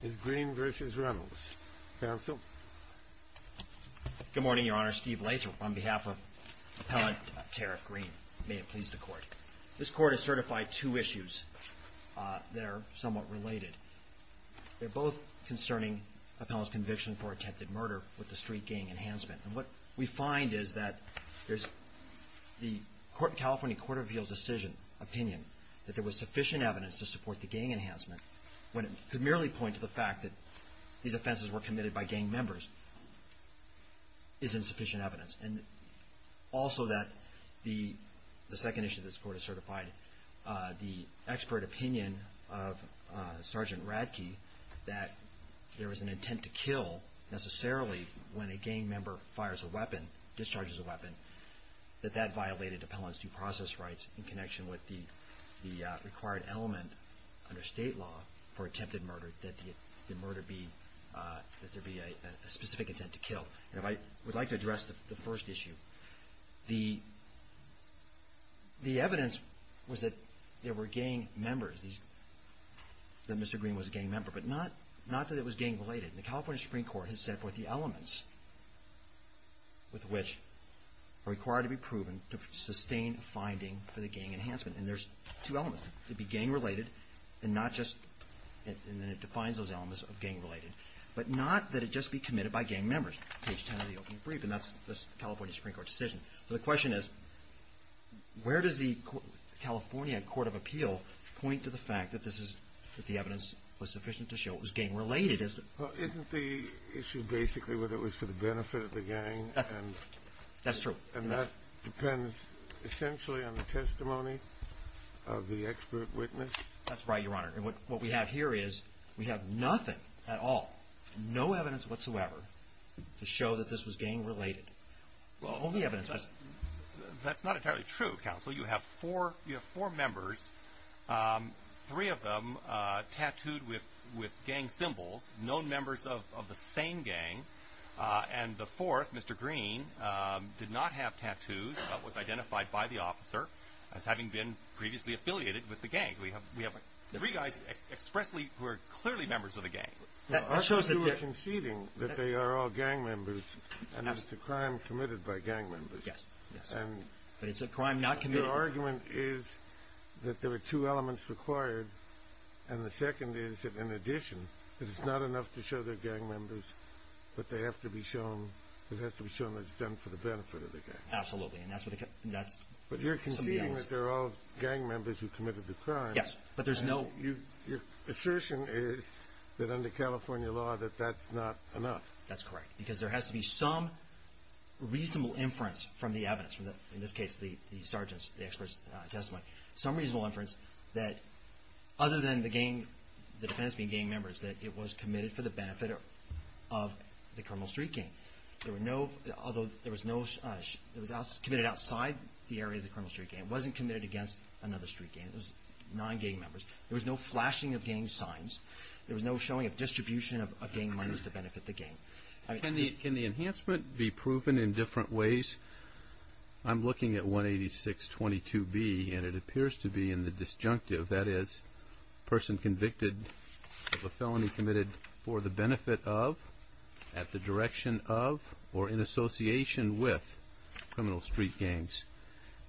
Good morning, Your Honor. Steve Lathrop on behalf of Appellant Tariff Green. May it please the Court. This Court has certified two issues that are somewhat related. They're both concerning Appellant's conviction for attempted murder with the street gang enhancement. And what we find is that there's the California Court of Appeals decision opinion that there was sufficient evidence to support the gang enhancement when it could merely point to the fact that these offenses were committed by gang members is insufficient evidence. And also that the second issue that this Court has certified, the expert opinion of Sergeant Radke that there was an intent to kill necessarily when a gang member fires a weapon, discharges a weapon, that that violated Appellant's due process rights in connection with the required element under state law for attempted murder that the murder be, that there be a specific intent to kill. And I would like to address the first issue. The evidence was that there were gang members, that Mr. Green was a gang member, but not that it was gang related. The California Supreme Court has set forth the elements with which are required to be proven to sustain a finding for the gang enhancement. And there's two elements. It'd be gang related and not just, and then it defines those elements, gang related, but not that it just be committed by gang members. Page 10 of the opening brief, and that's the California Supreme Court decision. So the question is, where does the California Court of Appeal point to the fact that this is, that the evidence was sufficient to show it was gang related? Well, isn't the issue basically whether it was for the benefit of the gang? That's true. And that depends essentially on the testimony of the expert witness? That's right, Your Honor. And what we have here is, we have nothing at all, no evidence whatsoever to show that this was gang related. Only evidence. That's not entirely true, counsel. You have four members, three of them tattooed with gang symbols, known members of the same gang. And the fourth, Mr. Green, did not have tattoos, but was identified by the officer as having been previously affiliated with the gang. We have three guys expressly who are clearly members of the gang. Well, aren't you conceding that they are all gang members, and it's a crime committed by gang members? Yes. But it's a crime not committed. Your argument is that there are two elements required, and the second is that in addition, that it's not enough to show they're gang members, but they have to be shown, it has to be shown that it's done for the benefit of the gang. Absolutely, and that's what the, that's the answer. But you're conceding that they're all gang members who committed the crime. Yes, but there's no... Your assertion is that under California law, that that's not enough. That's correct, because there has to be some reasonable inference from the evidence, from the, in this case, the sergeant's, the expert's testimony, some reasonable inference that other than the gang, the defense being gang members, that it was committed for the benefit of the Carmel Street gang. There were no, although there was no, it was committed outside the area of the Carmel Street gang. It wasn't committed against another street gang. It was non-gang members. There was no flashing of gang signs. There was no showing of distribution of gang members to benefit the gang. Can the enhancement be proven in different ways? I'm looking at 18622B, and it appears to be in the disjunctive, that is, person convicted of a felony committed for the benefit of, at the direction of, or in association with criminal street gangs.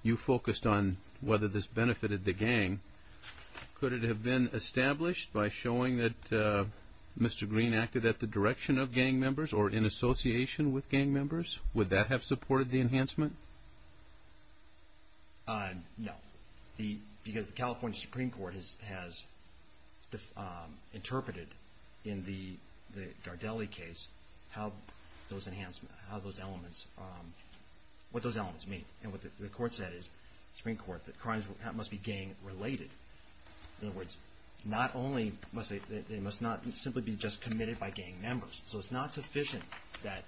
You focused on whether this benefited the gang. Could it have been established by showing that Mr. Green acted at the direction of gang members or in association with gang members? Would that have supported the enhancement? No, because the California Supreme Court has interpreted in the Gardelli case how those enhancements, how those elements, what those elements mean. And what the court said is, Supreme Court, that crimes must be gang-related. In other words, not only must they, they must not simply be just committed by gang members. So it's not sufficient that,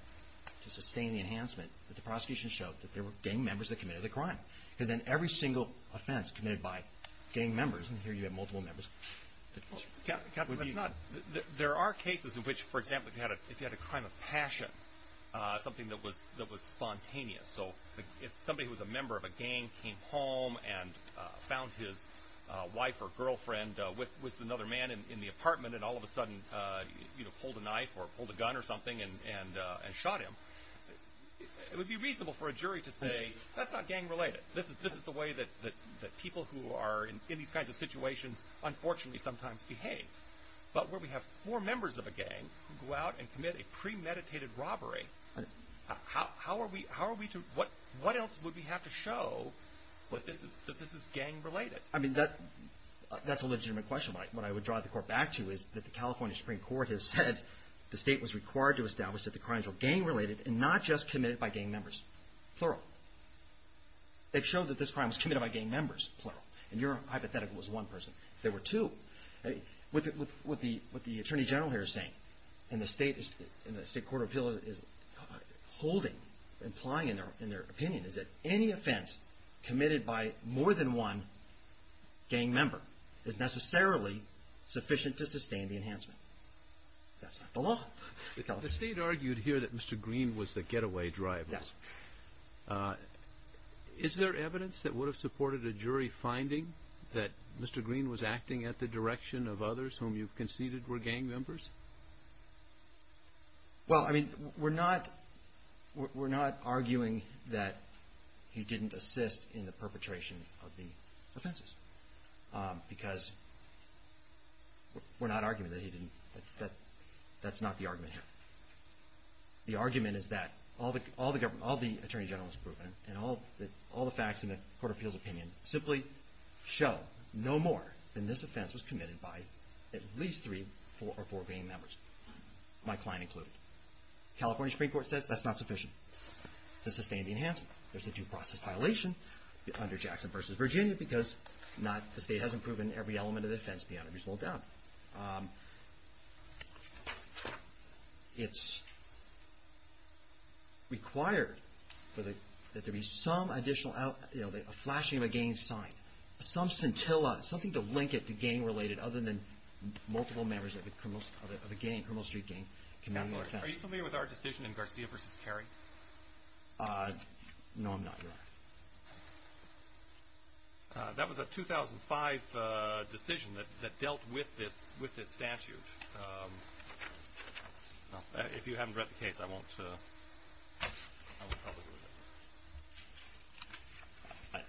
to sustain the enhancement, that the prosecution showed that there were gang members that committed the crime. Because then every single offense committed by gang members, and here you have multiple members, would be... with another man in the apartment and all of a sudden pulled a knife or pulled a gun or something and shot him. It would be reasonable for a jury to say, that's not gang-related. This is the way that people who are in these kinds of situations unfortunately sometimes behave. But where we have four members of a gang who go out and commit a premeditated robbery, how are we to, what else would we have to show that this is gang-related? I mean, that's a legitimate question. What I would draw the court back to is that the California Supreme Court has said the state was required to establish that the crimes were gang-related and not just committed by gang members. Plural. They've showed that this crime was committed by gang members, plural. And your hypothetical was one person. There were two. What the Attorney General here is saying, and the State Court of Appeals is holding, implying in their opinion, is that any offense committed by more than one gang member is necessarily sufficient to sustain the enhancement. That's not the law. The State argued here that Mr. Green was the getaway driver. Yes. Is there evidence that would have supported a jury finding that Mr. Green was acting at the direction of others whom you conceded were gang members? Well, I mean, we're not arguing that he didn't assist in the perpetration of the offenses. Because we're not arguing that he didn't, that's not the argument here. The argument is that all the Attorney General has proven and all the facts in the Court of Appeals' opinion simply show no more than this offense was committed by at least three or four gang members. My client included. California Supreme Court says that's not sufficient to sustain the enhancement. There's a due process violation under Jackson v. Virginia because the State hasn't proven every element of the offense beyond it being sold down. It's required that there be some additional, you know, a flashing of a gang sign, some scintilla, something to link it to gang-related, other than multiple members of a gang, a Criminal Street gang, commanding offense. Are you familiar with our decision in Garcia v. Carey? No, I'm not, Your Honor. That was a 2005 decision that dealt with this statute. If you haven't read the case, I won't tell you.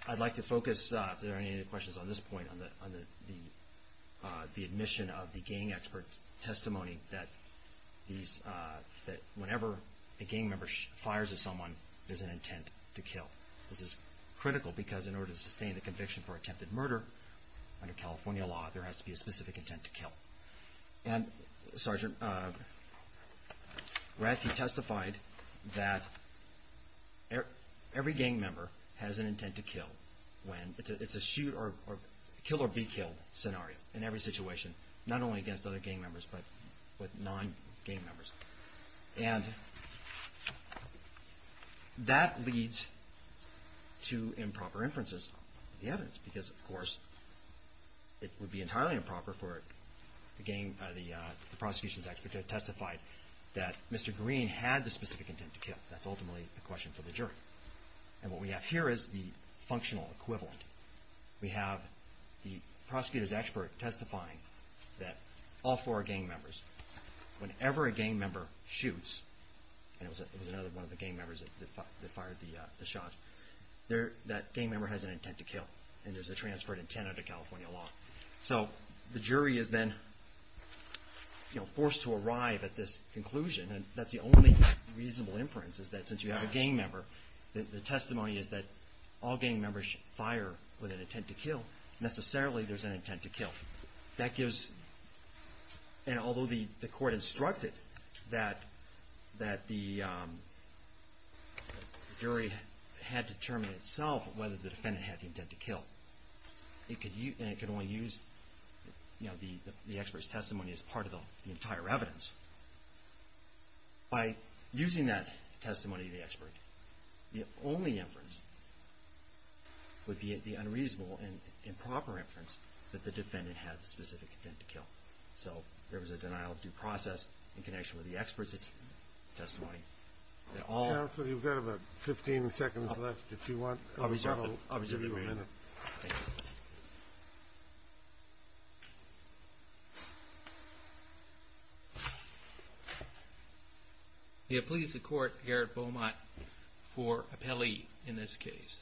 I'd like to focus, if there are any questions on this point, on the admission of the gang expert's testimony that whenever a gang member fires at someone, there's an intent to kill. This is critical because in order to sustain the conviction for attempted murder under California law, there has to be a specific intent to kill. And Sergeant Ratty testified that every gang member has an intent to kill. It's a shoot or kill or be killed scenario in every situation, not only against other gang members, but with non-gang members. And that leads to improper inferences of the evidence because, of course, it would be entirely improper for the prosecution's expert to have testified that Mr. Green had the specific intent to kill. That's ultimately a question for the jury. And what we have here is the functional equivalent. We have the prosecutor's expert testifying that all four gang members, whenever a gang member shoots, and it was another one of the gang members that fired the shot, that gang member has an intent to kill. And there's a transferred intent under California law. So the jury is then forced to arrive at this conclusion. And that's the only reasonable inference, is that since you have a gang member, the testimony is that all gang members fire with an intent to kill. Necessarily, there's an intent to kill. And although the court instructed that the jury had to determine itself whether the defendant had the intent to kill, and it could only use the expert's testimony as part of the entire evidence, by using that testimony of the expert, the only inference would be the unreasonable and improper inference that the defendant had. So there was a denial of due process in connection with the expert's testimony. Counsel, you've got about 15 seconds left if you want. I'll reserve a minute. You have pleased the court, Garrett Beaumont, for appellee in this case.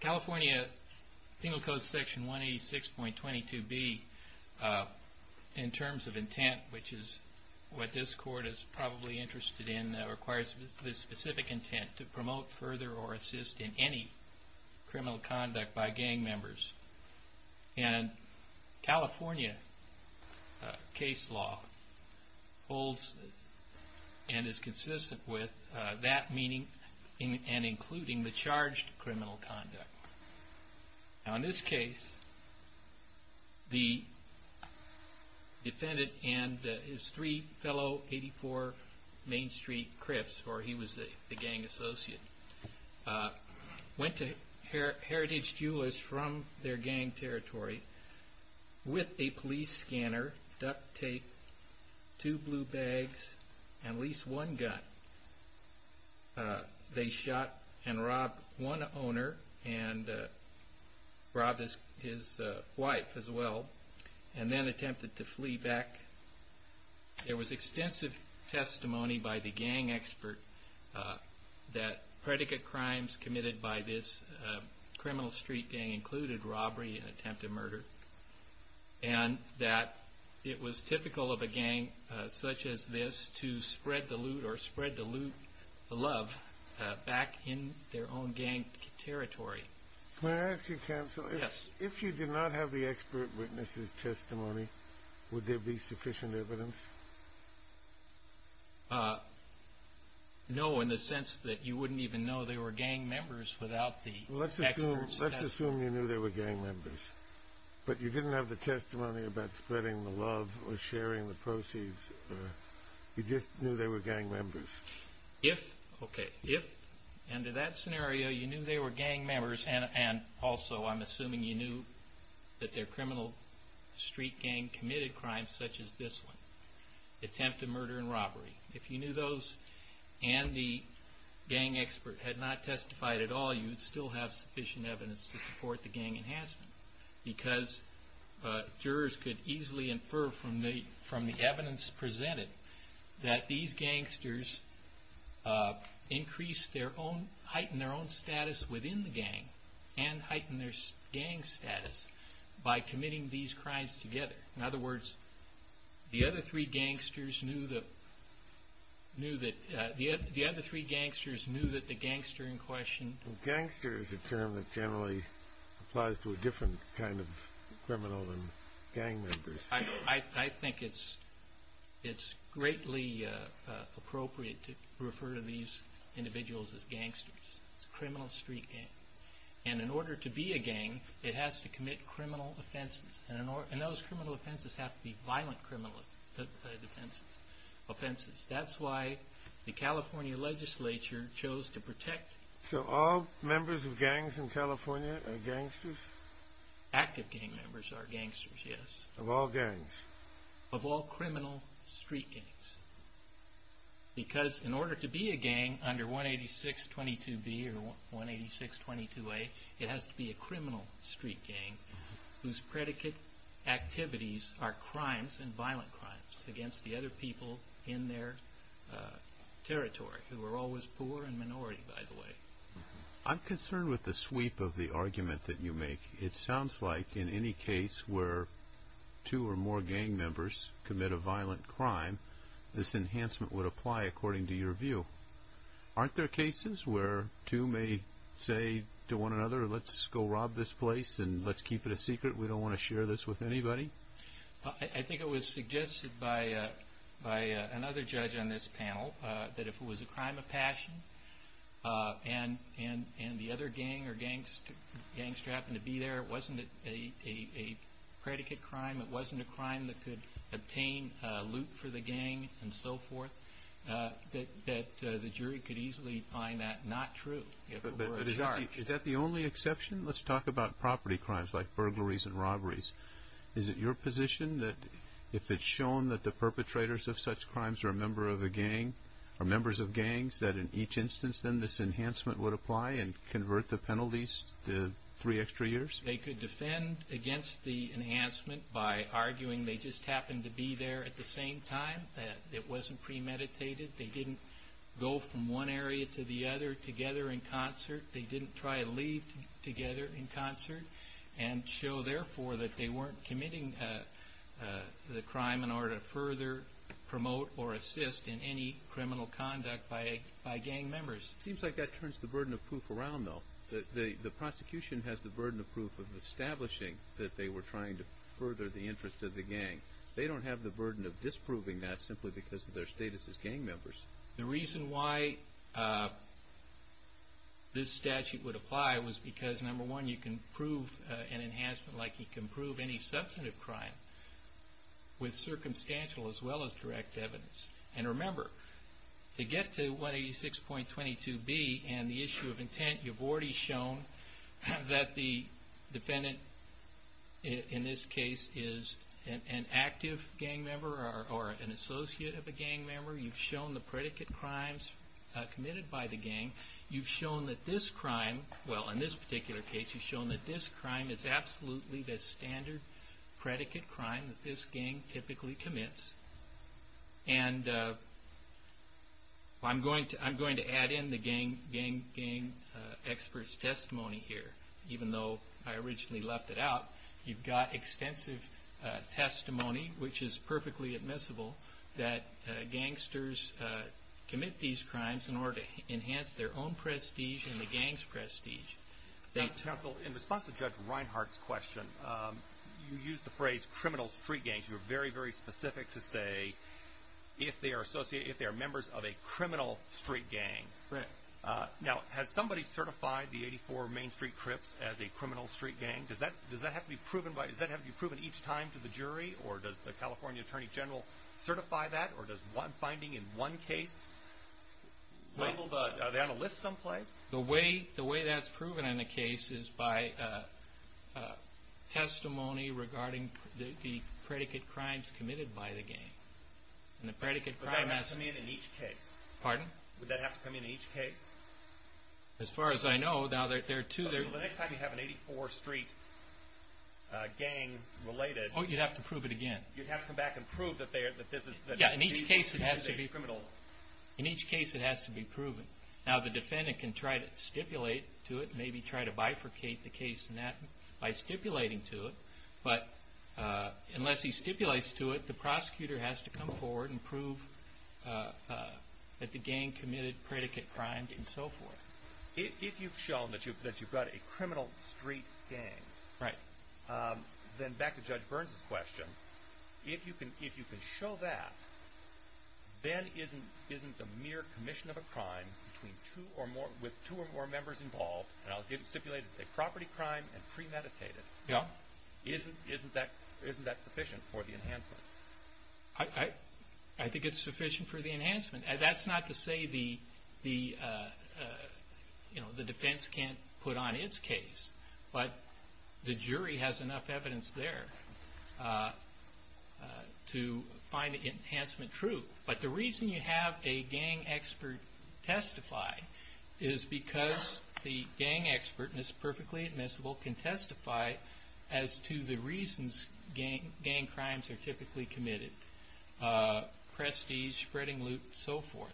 California penal code section 186.22B, in terms of intent, which is what this court is probably interested in, requires this specific intent to promote further or assist in any criminal conduct by gang members. And California case law holds and is consistent with that meaning and including the charged criminal conduct. Now in this case, the defendant and his three fellow 84 Main Street Crips, where he was the gang associate, went to Heritage Jewelers from their gang territory with a police scanner, duct tape, two blue bags, and at least one gun. They shot and robbed one owner and robbed his wife as well, and then attempted to flee back. There was extensive testimony by the gang expert that predicate crimes committed by this criminal street gang included robbery and attempted murder, and that it was typical of a gang such as this to spread the loot or spread the loot, the love, back in their own gang territory. May I ask you, counsel, if you did not have the expert witness's testimony, would there be sufficient evidence? No, in the sense that you wouldn't even know they were gang members without the expert's testimony. Let's assume you knew they were gang members, but you didn't have the testimony about spreading the love or sharing the proceeds. You just knew they were gang members. If, under that scenario, you knew they were gang members, and also I'm assuming you knew that their criminal street gang committed crimes such as this one, attempted murder and robbery, if you knew those and the gang expert had not testified at all, you'd still have sufficient evidence to support the gang enhancement. Because jurors could easily infer from the evidence presented that these gangsters heightened their own status within the gang and heightened their gang status by committing these crimes together. In other words, the other three gangsters knew that the gangster in question... I think it's greatly appropriate to refer to these individuals as gangsters. It's a criminal street gang. And in order to be a gang, it has to commit criminal offenses. And those criminal offenses have to be violent offenses. That's why the California legislature chose to protect... So all members of gangs in California are gangsters? Active gang members are gangsters, yes. Of all gangs? Of all criminal street gangs. Because in order to be a gang under 18622B or 18622A, it has to be a criminal street gang whose predicate activities are crimes and violent crimes against the other people in their territory, who are always poor and minority, by the way. I'm concerned with the sweep of the argument that you make. It sounds like in any case where two or more gang members commit a violent crime, this enhancement would apply according to your view. Aren't there cases where two may say to one another, let's go rob this place and let's keep it a secret? We don't want to share this with anybody? I think it was suggested by another judge on this panel that if it was a crime of passion and the other gang or gangster happened to be there, it wasn't a predicate crime, it wasn't a crime that could obtain loot for the gang and so forth, that the jury could easily find that not true. Is that the only exception? Let's talk about property crimes like burglaries and robberies. Is it your position that if it's shown that the perpetrators of such crimes are members of gangs, that in each instance then this enhancement would apply and convert the penalties to three extra years? They could defend against the enhancement by arguing they just happened to be there at the same time, that it wasn't premeditated, they didn't go from one area to the other together in concert, they didn't try to leave together in concert and show therefore that they weren't committing the crime in order to further promote or assist in any criminal conduct by gang members. It seems like that turns the burden of proof around though. The prosecution has the burden of proof of establishing that they were trying to further the interest of the gang. They don't have the burden of disproving that simply because of their status as gang members. The reason why this statute would apply was because number one, you can prove an enhancement like you can prove any substantive crime with circumstantial as well as direct evidence. And remember, to get to 186.22b and the issue of intent, you've already shown that the defendant in this case is an active gang member or an associate of a gang member. You've shown the predicate crimes committed by the gang. You've shown that this crime, well in this particular case, you've shown that this crime is absolutely the standard predicate crime that this gang typically commits. And I'm going to add in the gang expert's testimony here, even though I originally left it out. You've got extensive testimony, which is perfectly admissible, that gangsters commit these crimes in order to enhance their own prestige and the gang's prestige. In response to Judge Reinhart's question, you used the phrase criminal street gangs. You were very, very specific to say if they are members of a criminal street gang. Now, has somebody certified the 84 Main Street Crips as a criminal street gang? Does that have to be proven each time to the jury, or does the California Attorney General certify that, or does one finding in one case label that? Are they on a list someplace? The way that's proven in a case is by testimony regarding the predicate crimes committed by the gang. Would that have to come in in each case? Pardon? Would that have to come in in each case? As far as I know, now there are two. So the next time you have an 84 Street gang related... Oh, you'd have to prove it again. You'd have to come back and prove that this is... Yeah, in each case it has to be proven. Now, the defendant can try to stipulate to it, maybe try to bifurcate the case in that by stipulating to it. But unless he stipulates to it, the prosecutor has to come forward and prove that the gang committed predicate crimes and so forth. If you've shown that you've got a criminal street gang... Right. Then back to Judge Burns' question. If you can show that, then isn't the mere commission of a crime with two or more members involved, and I'll stipulate it's a property crime and premeditated, isn't that sufficient for the enhancement? I think it's sufficient for the enhancement. That's not to say the defense can't put on its case, but the jury has enough evidence there to find the enhancement true. But the reason you have a gang expert testify is because the gang expert, and it's perfectly admissible, can testify as to the reasons gang crimes are typically committed. Prestige, spreading loot, so forth.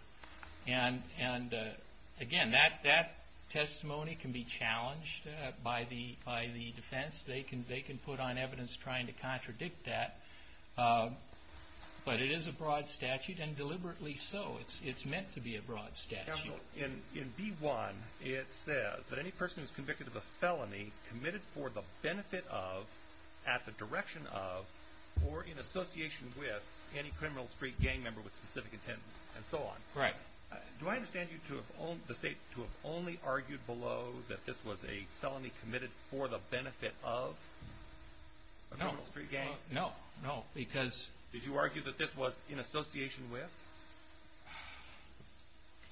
And, again, that testimony can be challenged by the defense. They can put on evidence trying to contradict that. But it is a broad statute, and deliberately so. It's meant to be a broad statute. In B-1, it says that any person who is convicted of a felony committed for the benefit of, at the direction of, or in association with any criminal street gang member with specific intent, and so on. Right. Do I understand you to have only argued below that this was a felony committed for the benefit of a criminal street gang? No. Did you argue that this was in association with?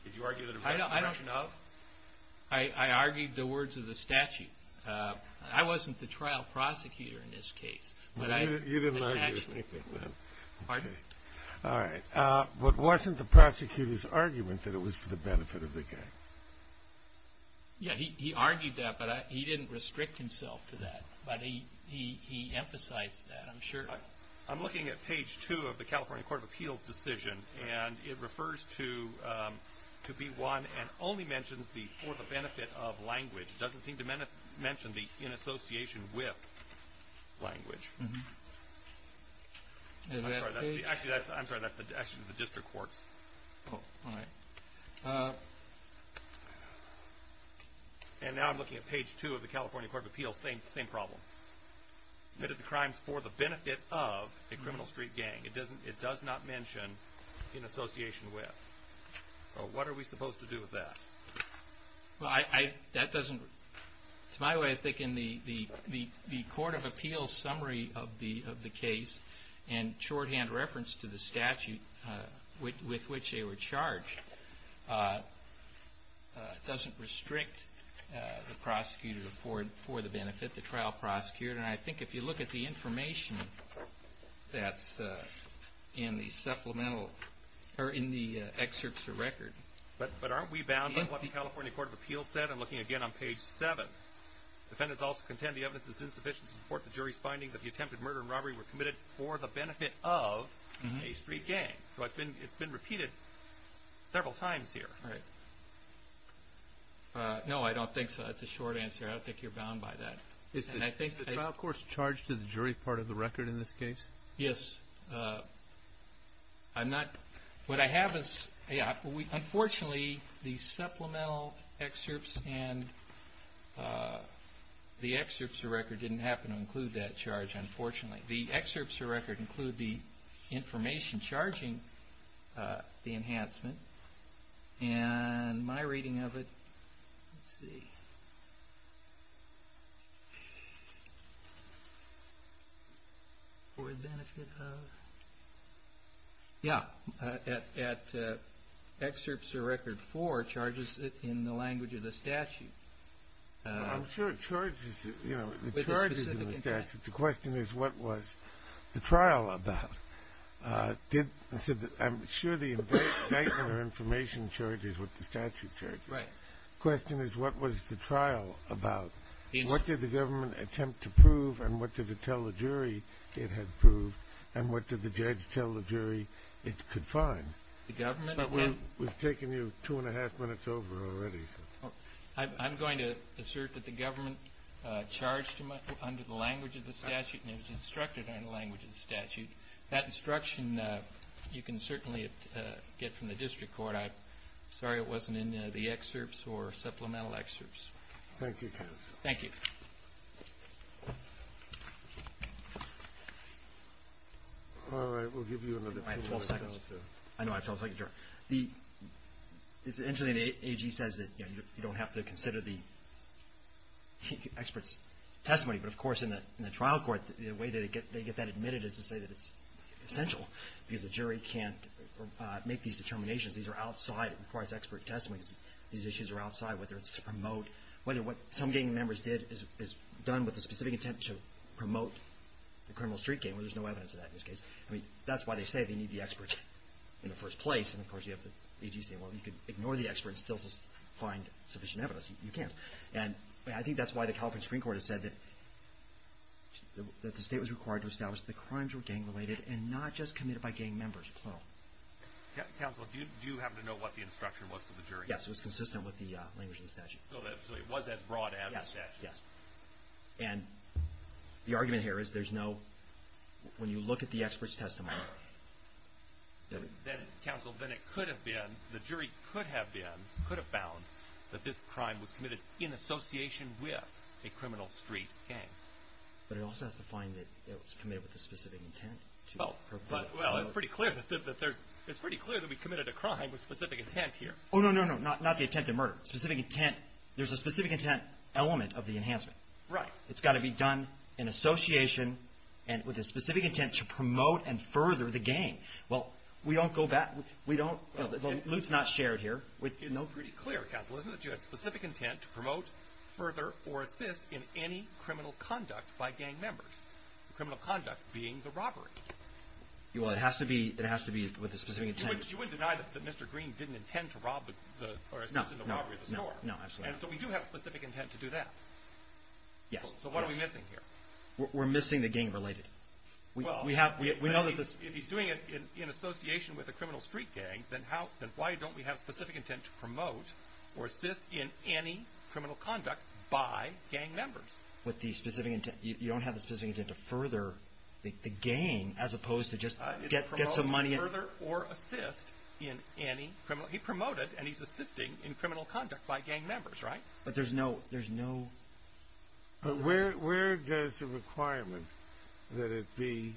Did you argue that it was in the direction of? I argued the words of the statute. I wasn't the trial prosecutor in this case. You didn't argue anything then. Pardon me. All right. But wasn't the prosecutor's argument that it was for the benefit of the gang? Yeah, he argued that, but he didn't restrict himself to that. But he emphasized that, I'm sure. I'm looking at page 2 of the California Court of Appeals decision, and it refers to B-1 and only mentions the for the benefit of language. It doesn't seem to mention the in association with language. I'm sorry, that's actually the district courts. Oh, all right. And now I'm looking at page 2 of the California Court of Appeals, same problem. Committed the crimes for the benefit of a criminal street gang. It does not mention in association with. What are we supposed to do with that? That doesn't, to my way of thinking, the Court of Appeals summary of the case and shorthand reference to the statute with which they were charged doesn't restrict the prosecutor for the benefit, the trial prosecutor. And I think if you look at the information that's in the supplemental, or in the excerpts of record. But aren't we bound by what the California Court of Appeals said? I'm looking again on page 7. Defendants also contend the evidence is insufficient to support the jury's finding that the attempted murder and robbery were committed for the benefit of a street gang. So it's been repeated several times here. All right. No, I don't think so. That's a short answer. I don't think you're bound by that. Is the trial court's charge to the jury part of the record in this case? Yes. I'm not, what I have is, unfortunately, the supplemental excerpts and the excerpts of record didn't happen to include that charge, unfortunately. The excerpts of record include the information charging the enhancement. And my reading of it, let's see, for the benefit of, yeah, at excerpts of record 4 charges it in the language of the statute. I'm sure it charges it, you know, it charges in the statute. The question is what was the trial about? I'm sure the indictment or information charge is what the statute charges. Right. The question is what was the trial about? What did the government attempt to prove and what did it tell the jury it had proved and what did the judge tell the jury it could find? The government attempt? We've taken you two and a half minutes over already. I'm going to assert that the government charged him under the language of the statute and it was instructed under the language of the statute. That instruction you can certainly get from the district court. I'm sorry it wasn't in the excerpts or supplemental excerpts. Thank you, counsel. Thank you. All right. We'll give you another minute. I have 12 seconds. I know I have 12 seconds, Your Honor. It's interesting. The AG says that you don't have to consider the expert's testimony, but of course in the trial court the way they get that admitted is to say that it's essential because the jury can't make these determinations. These are outside. It requires expert testimony. These issues are outside whether it's to promote, whether what some gang members did is done with the specific intent to promote the criminal street game. There's no evidence of that in this case. That's why they say they need the experts in the first place, and of course you have the AG saying, well, you can ignore the experts and still find sufficient evidence. You can't. And I think that's why the California Supreme Court has said that the state was required to establish that the crimes were gang related and not just committed by gang members, plural. Counsel, do you happen to know what the instruction was for the jury? Yes, it was consistent with the language of the statute. So it was as broad as the statute. Yes, yes. And the argument here is there's no, when you look at the expert's testimony. Counsel, then it could have been, the jury could have been, could have found that this crime was committed in association with a criminal street gang. But it also has to find that it was committed with a specific intent to promote. Well, it's pretty clear that there's, it's pretty clear that we committed a crime with specific intent here. There's a specific intent element of the enhancement. Right. It's got to be done in association and with a specific intent to promote and further the gang. Well, we don't go back, we don't, the loop's not shared here. No, it's pretty clear, counsel. Isn't it that you had specific intent to promote, further, or assist in any criminal conduct by gang members? Criminal conduct being the robbery. Well, it has to be, it has to be with a specific intent. You wouldn't deny that Mr. Green didn't intend to rob the, or assist in the robbery. No, no, absolutely not. And so we do have specific intent to do that. Yes. So what are we missing here? We're missing the gang related. We have, we know that this. Well, if he's doing it in association with a criminal street gang, then how, then why don't we have specific intent to promote or assist in any criminal conduct by gang members? With the specific intent, you don't have the specific intent to further the gang, as opposed to just get some money. Further or assist in any criminal, he promoted and he's assisting in criminal conduct by gang members, right? But there's no, there's no. But where, where does the requirement that it be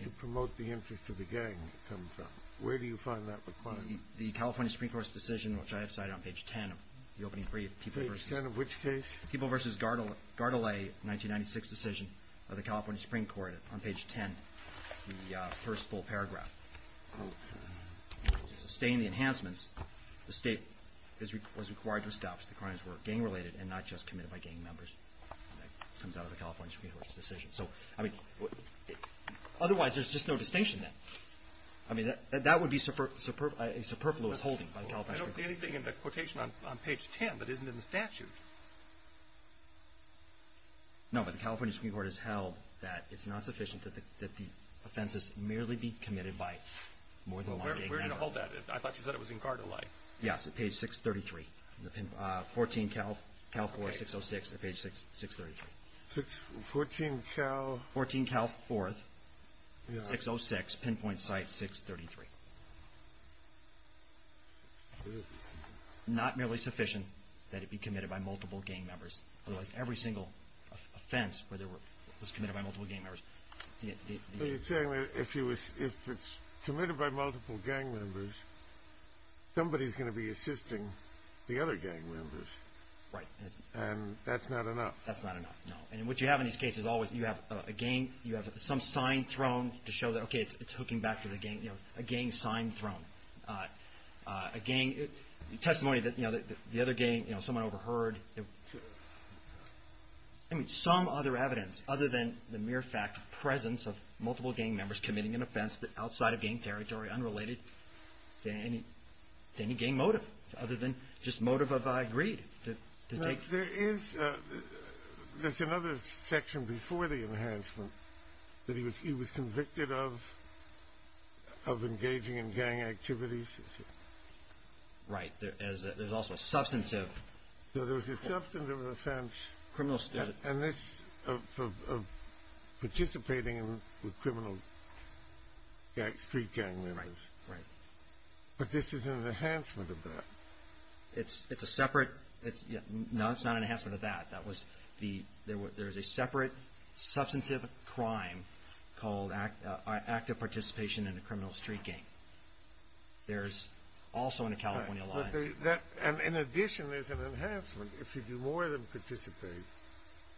to promote the interest of the gang come from? Where do you find that requirement? The California Supreme Court's decision, which I have cited on page 10 of the opening brief. Page 10 of which case? People versus Gardelay, 1996 decision of the California Supreme Court on page 10. The first full paragraph. To sustain the enhancements, the state was required to establish the crimes were gang related and not just committed by gang members. That comes out of the California Supreme Court's decision. So, I mean, otherwise there's just no distinction then. I mean, that would be a superfluous holding by the California Supreme Court. I don't see anything in the quotation on page 10 that isn't in the statute. No, but the California Supreme Court has held that it's not sufficient that the offenses merely be committed by more than one gang member. Where did it hold that? I thought you said it was in Gardelay. Yes, at page 633. 14 Cal, Cal 4, 606 at page 633. 14 Cal? 14 Cal 4, 606, pinpoint site 633. Not merely sufficient that it be committed by multiple gang members. Otherwise, every single offense was committed by multiple gang members. So you're saying that if it's committed by multiple gang members, somebody's going to be assisting the other gang members. Right. And that's not enough. That's not enough, no. And what you have in these cases always, you have a gang, you have some sign thrown to show that, okay, it's hooking back to the gang. You know, a gang sign thrown. A gang testimony that, you know, the other gang, you know, someone overheard. I mean, some other evidence other than the mere fact of presence of multiple gang members committing an offense outside of gang territory, unrelated to any gang motive, other than just motive of greed. There is, there's another section before the enhancement that he was convicted of engaging in gang activities. Right. There's also a substantive. There was a substantive offense. Criminal. And this, of participating with criminal street gang members. Right. But this is an enhancement of that. It's a separate, no, it's not an enhancement of that. That was the, there's a separate substantive crime called active participation in a criminal street gang. There's also in the California law. And in addition, there's an enhancement if you do more than participate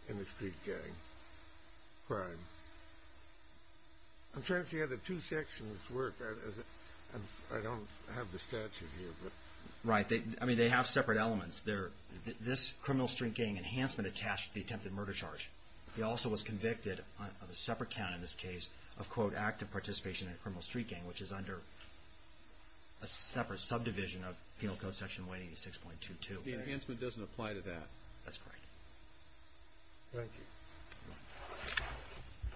in a street gang crime. I'm trying to see how the two sections work. I don't have the statute here. Right. I mean, they have separate elements. This criminal street gang enhancement attached to the attempted murder charge. He also was convicted of a separate count in this case of, quote, active participation in a criminal street gang, which is under a separate subdivision of Penal Code Section 186.22. The enhancement doesn't apply to that. That's correct. Thank you.